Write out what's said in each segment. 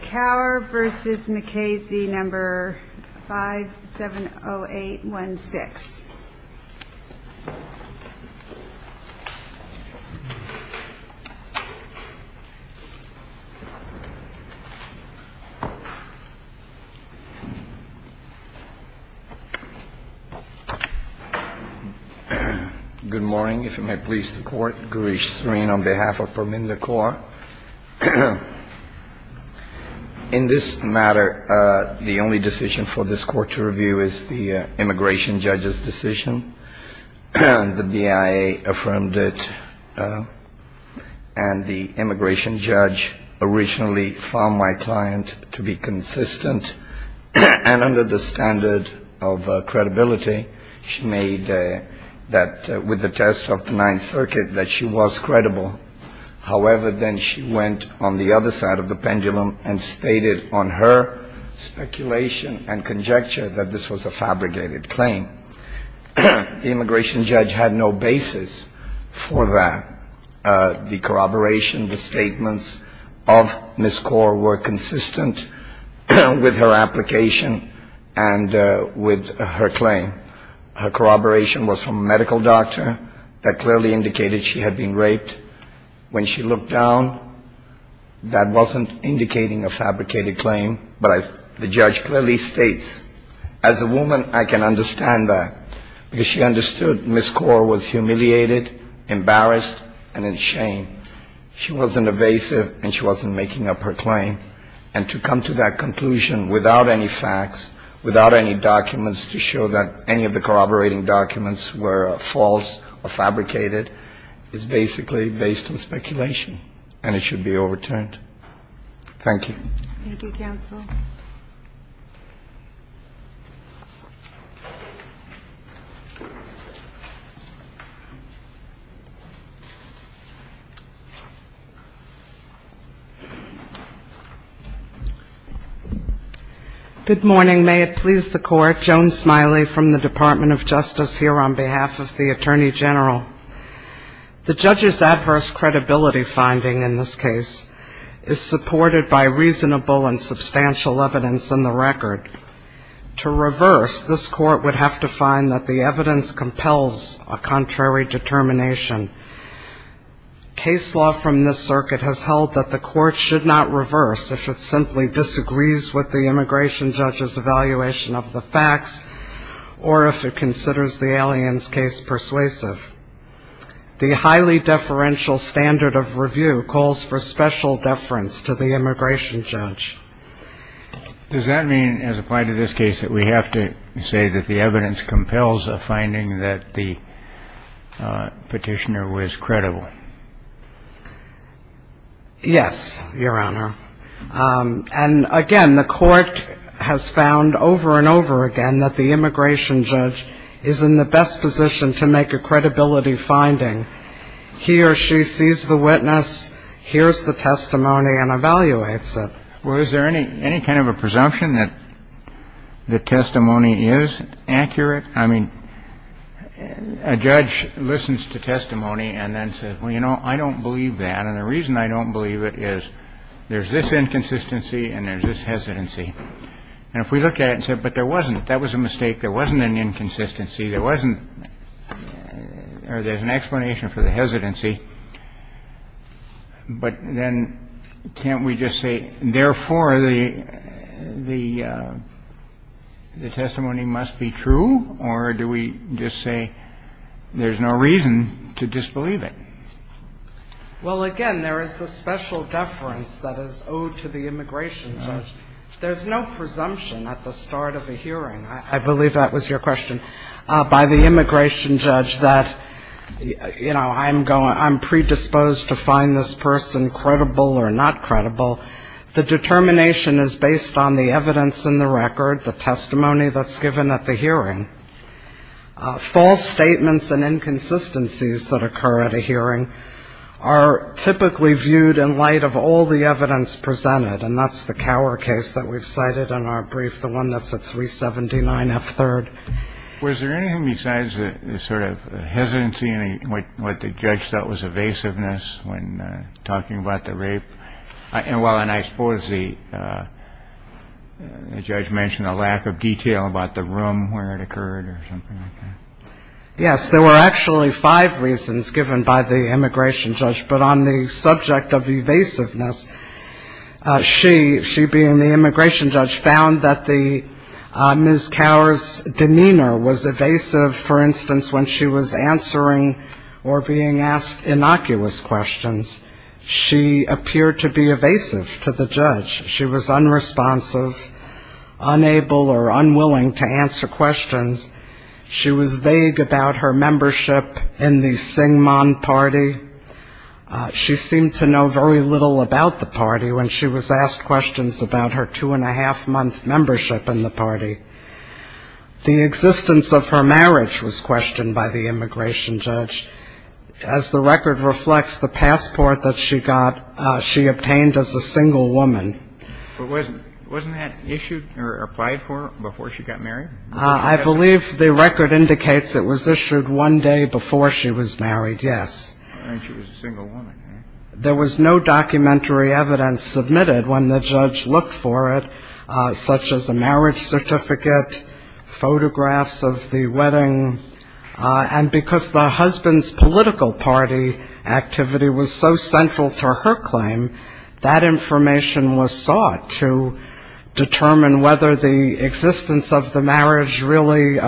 Kaur v. Mukasey, number 570816. Good morning. If you may please the court, Gurish Sreen on behalf of Pramila Kaur. In this matter, the only decision for this court to review is the immigration judge's decision, and the BIA affirmed it. And the immigration judge originally found my client to be consistent and under the standard of credibility. She made that with the test of the Ninth Circuit that she was credible. However, then she went on the other side of the pendulum and stated on her speculation and conjecture that this was a fabricated claim. The immigration judge had no basis for that. The corroboration, the statements of Ms. Kaur were consistent with her application and with her claim. Her corroboration was from a medical doctor that clearly indicated she had been raped. When she looked down, that wasn't indicating a fabricated claim, but the judge clearly states, as a woman, I can understand that. Because she understood Ms. Kaur was humiliated, embarrassed, and in shame. She wasn't evasive, and she wasn't making up her claim. And to come to that conclusion without any facts, without any documents to show that any of the corroborating documents were false or fabricated, is basically based on speculation, and it should be overturned. Thank you. Thank you, counsel. Good morning, may it please the court. Joan Smiley from the Department of Justice here on behalf of the Attorney General. The judge's adverse credibility finding in this case is supported by reasonable and substantial evidence in the record. To reverse, this court would have to find that the evidence compels a contrary determination. Case law from this circuit has held that the court should not reverse if it simply disagrees with the immigration judge's evaluation of the facts, or if it considers the alien's case persuasive. The highly deferential standard of review calls for special deference to the immigration judge. Does that mean, as applied to this case, that we have to say that the evidence compels a finding that the petitioner was credible? Yes, your honor. And again, the court has found over and over again that the immigration judge is in the best position to make a credibility finding. He or she sees the witness, hears the testimony, and evaluates it. Well, is there any kind of a presumption that the testimony is accurate? I mean, a judge listens to testimony and then says, well, you know, I don't believe that. And the reason I don't believe it is there's this inconsistency and there's this hesitancy. And if we look at it and say, but there wasn't, that was a mistake, there wasn't an inconsistency, there wasn't, or there's an explanation for the hesitancy, but then can't we just say, therefore, the testimony must be true, or do we just say there's no reason to disbelieve it? Well, again, there is the special deference that is owed to the immigration judge. There's no presumption at the start of a hearing. I believe that was your question, by the immigration judge that, you know, I'm predisposed to find this person credible or not credible. The determination is based on the evidence in the record, the testimony that's given at the hearing. False statements and inconsistencies that occur at a hearing are typically viewed in light of all the evidence presented. And that's the Cower case that we've cited in our brief, the one that's at 379F3rd. Was there anything besides the sort of hesitancy and what the judge thought was evasiveness when talking about the rape? And while I suppose the judge mentioned a lack of detail about the room where it occurred or something like that. Yes, there were actually five reasons given by the immigration judge. But on the subject of evasiveness, she, she being the immigration judge, found that the Ms. Cower's demeanor was evasive. For instance, when she was answering or being asked innocuous questions, she appeared to be evasive to the judge. She was unresponsive, unable or unwilling to answer questions. She was vague about her membership in the Syngman party. She seemed to know very little about the party when she was asked questions about her two and a half month membership in the party. The existence of her marriage was questioned by the immigration judge. As the record reflects, the passport that she got, she obtained as a single woman. But wasn't that issued or applied for before she got married? I believe the record indicates it was issued one day before she was married, yes. I think she was a single woman. There was no documentary evidence submitted when the judge looked for it, such as a marriage certificate, photographs of the wedding. And because the husband's political party activity was so central to her claim, that information was sought to determine whether the existence of the marriage really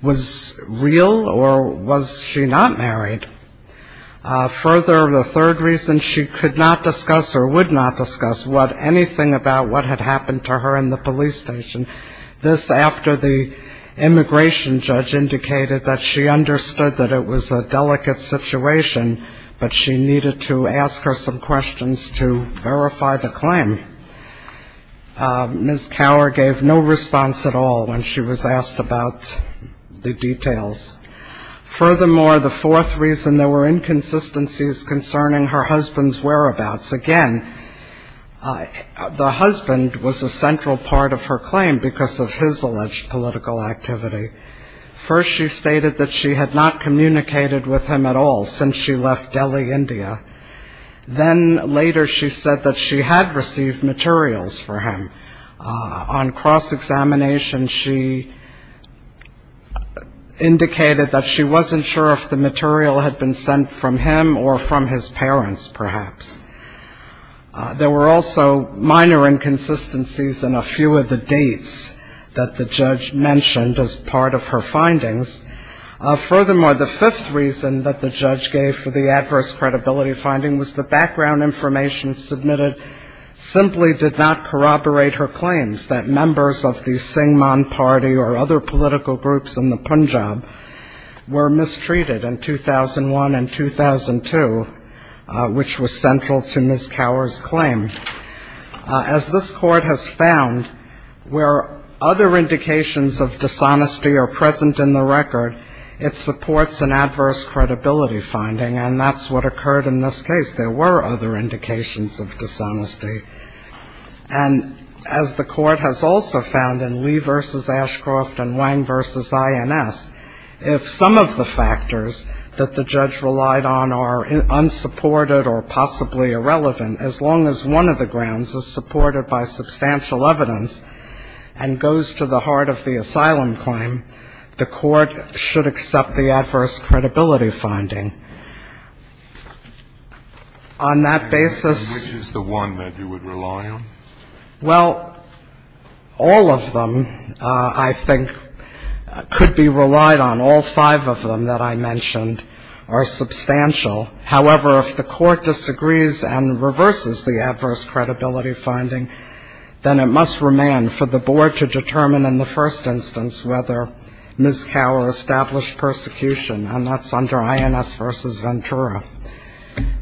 was real or was she not married. Further, the third reason, she could not discuss or would not discuss anything about what had happened to her in the police station. This after the immigration judge indicated that she understood that it was a delicate situation, but she needed to ask her some questions to verify the claim. Ms. Cower gave no response at all when she was asked about the details. Furthermore, the fourth reason, there were inconsistencies concerning her husband's whereabouts. Again, the husband was a central part of her claim because of his alleged political activity. First, she stated that she had not communicated with him at all since she left Delhi, India. Then later, she said that she had received materials for him. On cross-examination, she indicated that she wasn't sure if the material had been sent from him or from his parents, perhaps. There were also minor inconsistencies in a few of the dates that the judge mentioned as part of her findings. Furthermore, the fifth reason that the judge gave for the adverse credibility finding was the background information submitted simply did not corroborate her claims that members of the Singman party or other political groups in the Punjab were mistreated in 2001 and 2002, which was central to Ms. Cower's claim. As this court has found, where other indications of dishonesty are present in the record, it supports an adverse credibility finding, and that's what occurred in this case. There were other indications of dishonesty, and as the court has also found in Lee v. Ashcroft and Wang v. INS, if some of the factors that the judge relied on are unsupported or possibly irrelevant, as long as one of the grounds is supported by substantial evidence and goes to the heart of the asylum claim, the court should accept the adverse credibility finding. On that basis- Which is the one that you would rely on? Well, all of them, I think, could be relied on. All five of them that I mentioned are substantial. However, if the court disagrees and reverses the adverse credibility finding, then it must remain for the board to determine in the first instance whether Ms. Cower established persecution, and that's under INS versus Ventura.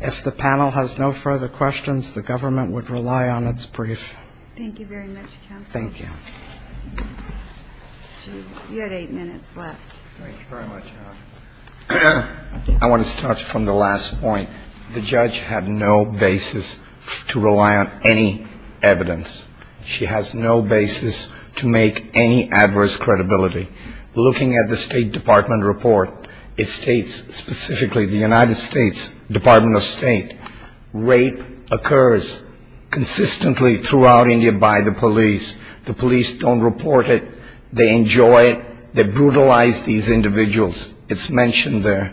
If the panel has no further questions, the government would rely on its brief. Thank you very much, counsel. Thank you. You had eight minutes left. Thank you very much. I want to start from the last point. The judge had no basis to rely on any evidence. She has no basis to make any adverse credibility. Looking at the State Department report, it states specifically the United States Department of State, rape occurs consistently throughout India by the police. The police don't report it. They enjoy it. They brutalize these individuals. It's mentioned there.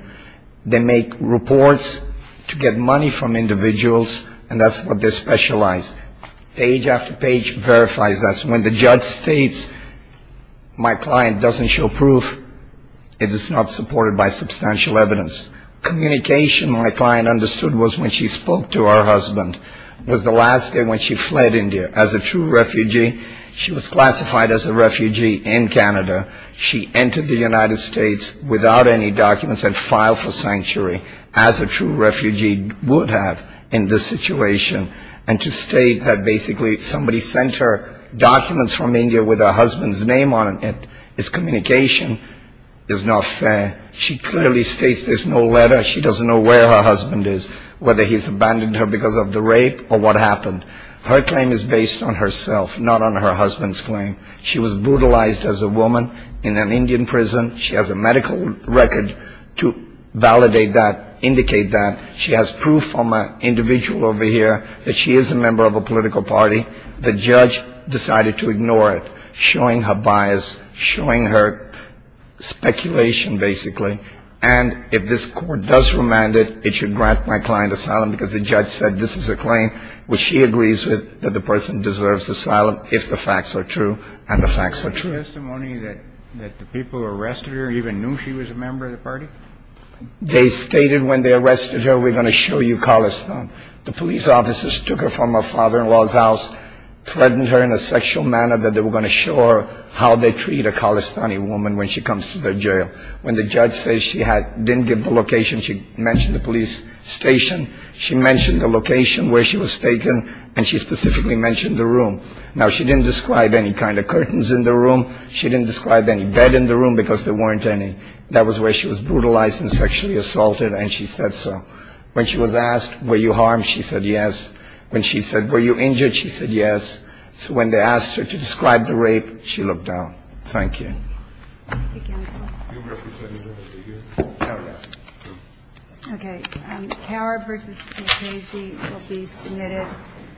They make reports to get money from individuals, and that's what they specialize. Page after page verifies this. When the judge states my client doesn't show proof, it is not supported by substantial evidence. Communication my client understood was when she spoke to her husband, was the last day when she fled India as a true refugee. She was classified as a refugee in Canada. She entered the United States without any documents and filed for sanctuary as a true refugee would have in this situation. And to state that basically somebody sent her documents from India with her husband's name on it, is communication is not fair. She clearly states there's no letter. She doesn't know where her husband is, whether he's abandoned her because of the rape or what happened. Her claim is based on herself, not on her husband's claim. She was brutalized as a woman in an Indian prison. She has a medical record to validate that, indicate that. She has proof from an individual over here that she is a member of a political party. The judge decided to ignore it, showing her bias, showing her speculation, basically. And if this court does remand it, it should grant my client asylum because the judge said this is a claim which she agrees with, that the person deserves asylum if the facts are true, and the facts are true. The testimony that the people who arrested her even knew she was a member of the party? They stated when they arrested her, we're going to show you Khalistan. The police officers took her from her father-in-law's house, threatened her in a sexual manner that they were going to show her how they treat a Khalistani woman when she comes to their jail. When the judge said she didn't give the location, she mentioned the police station, she mentioned the location where she was taken, and she specifically mentioned the room. Now, she didn't describe any kind of curtains in the room. She didn't describe any bed in the room because there weren't any. That was where she was brutalized and sexually assaulted, and she said so. When she was asked, were you harmed? She said yes. When she said, were you injured? She said yes. So when they asked her to describe the rape, she looked down. Thank you. GONZALEZ-RODRIGUEZ-FERNANDEZ Thank you, counsel. MR. You represent another figure? MS. GONZALEZ-RODRIGUEZ-FERNANDEZ No, no. MS. GONZALEZ-RODRIGUEZ-FERNANDEZ Okay.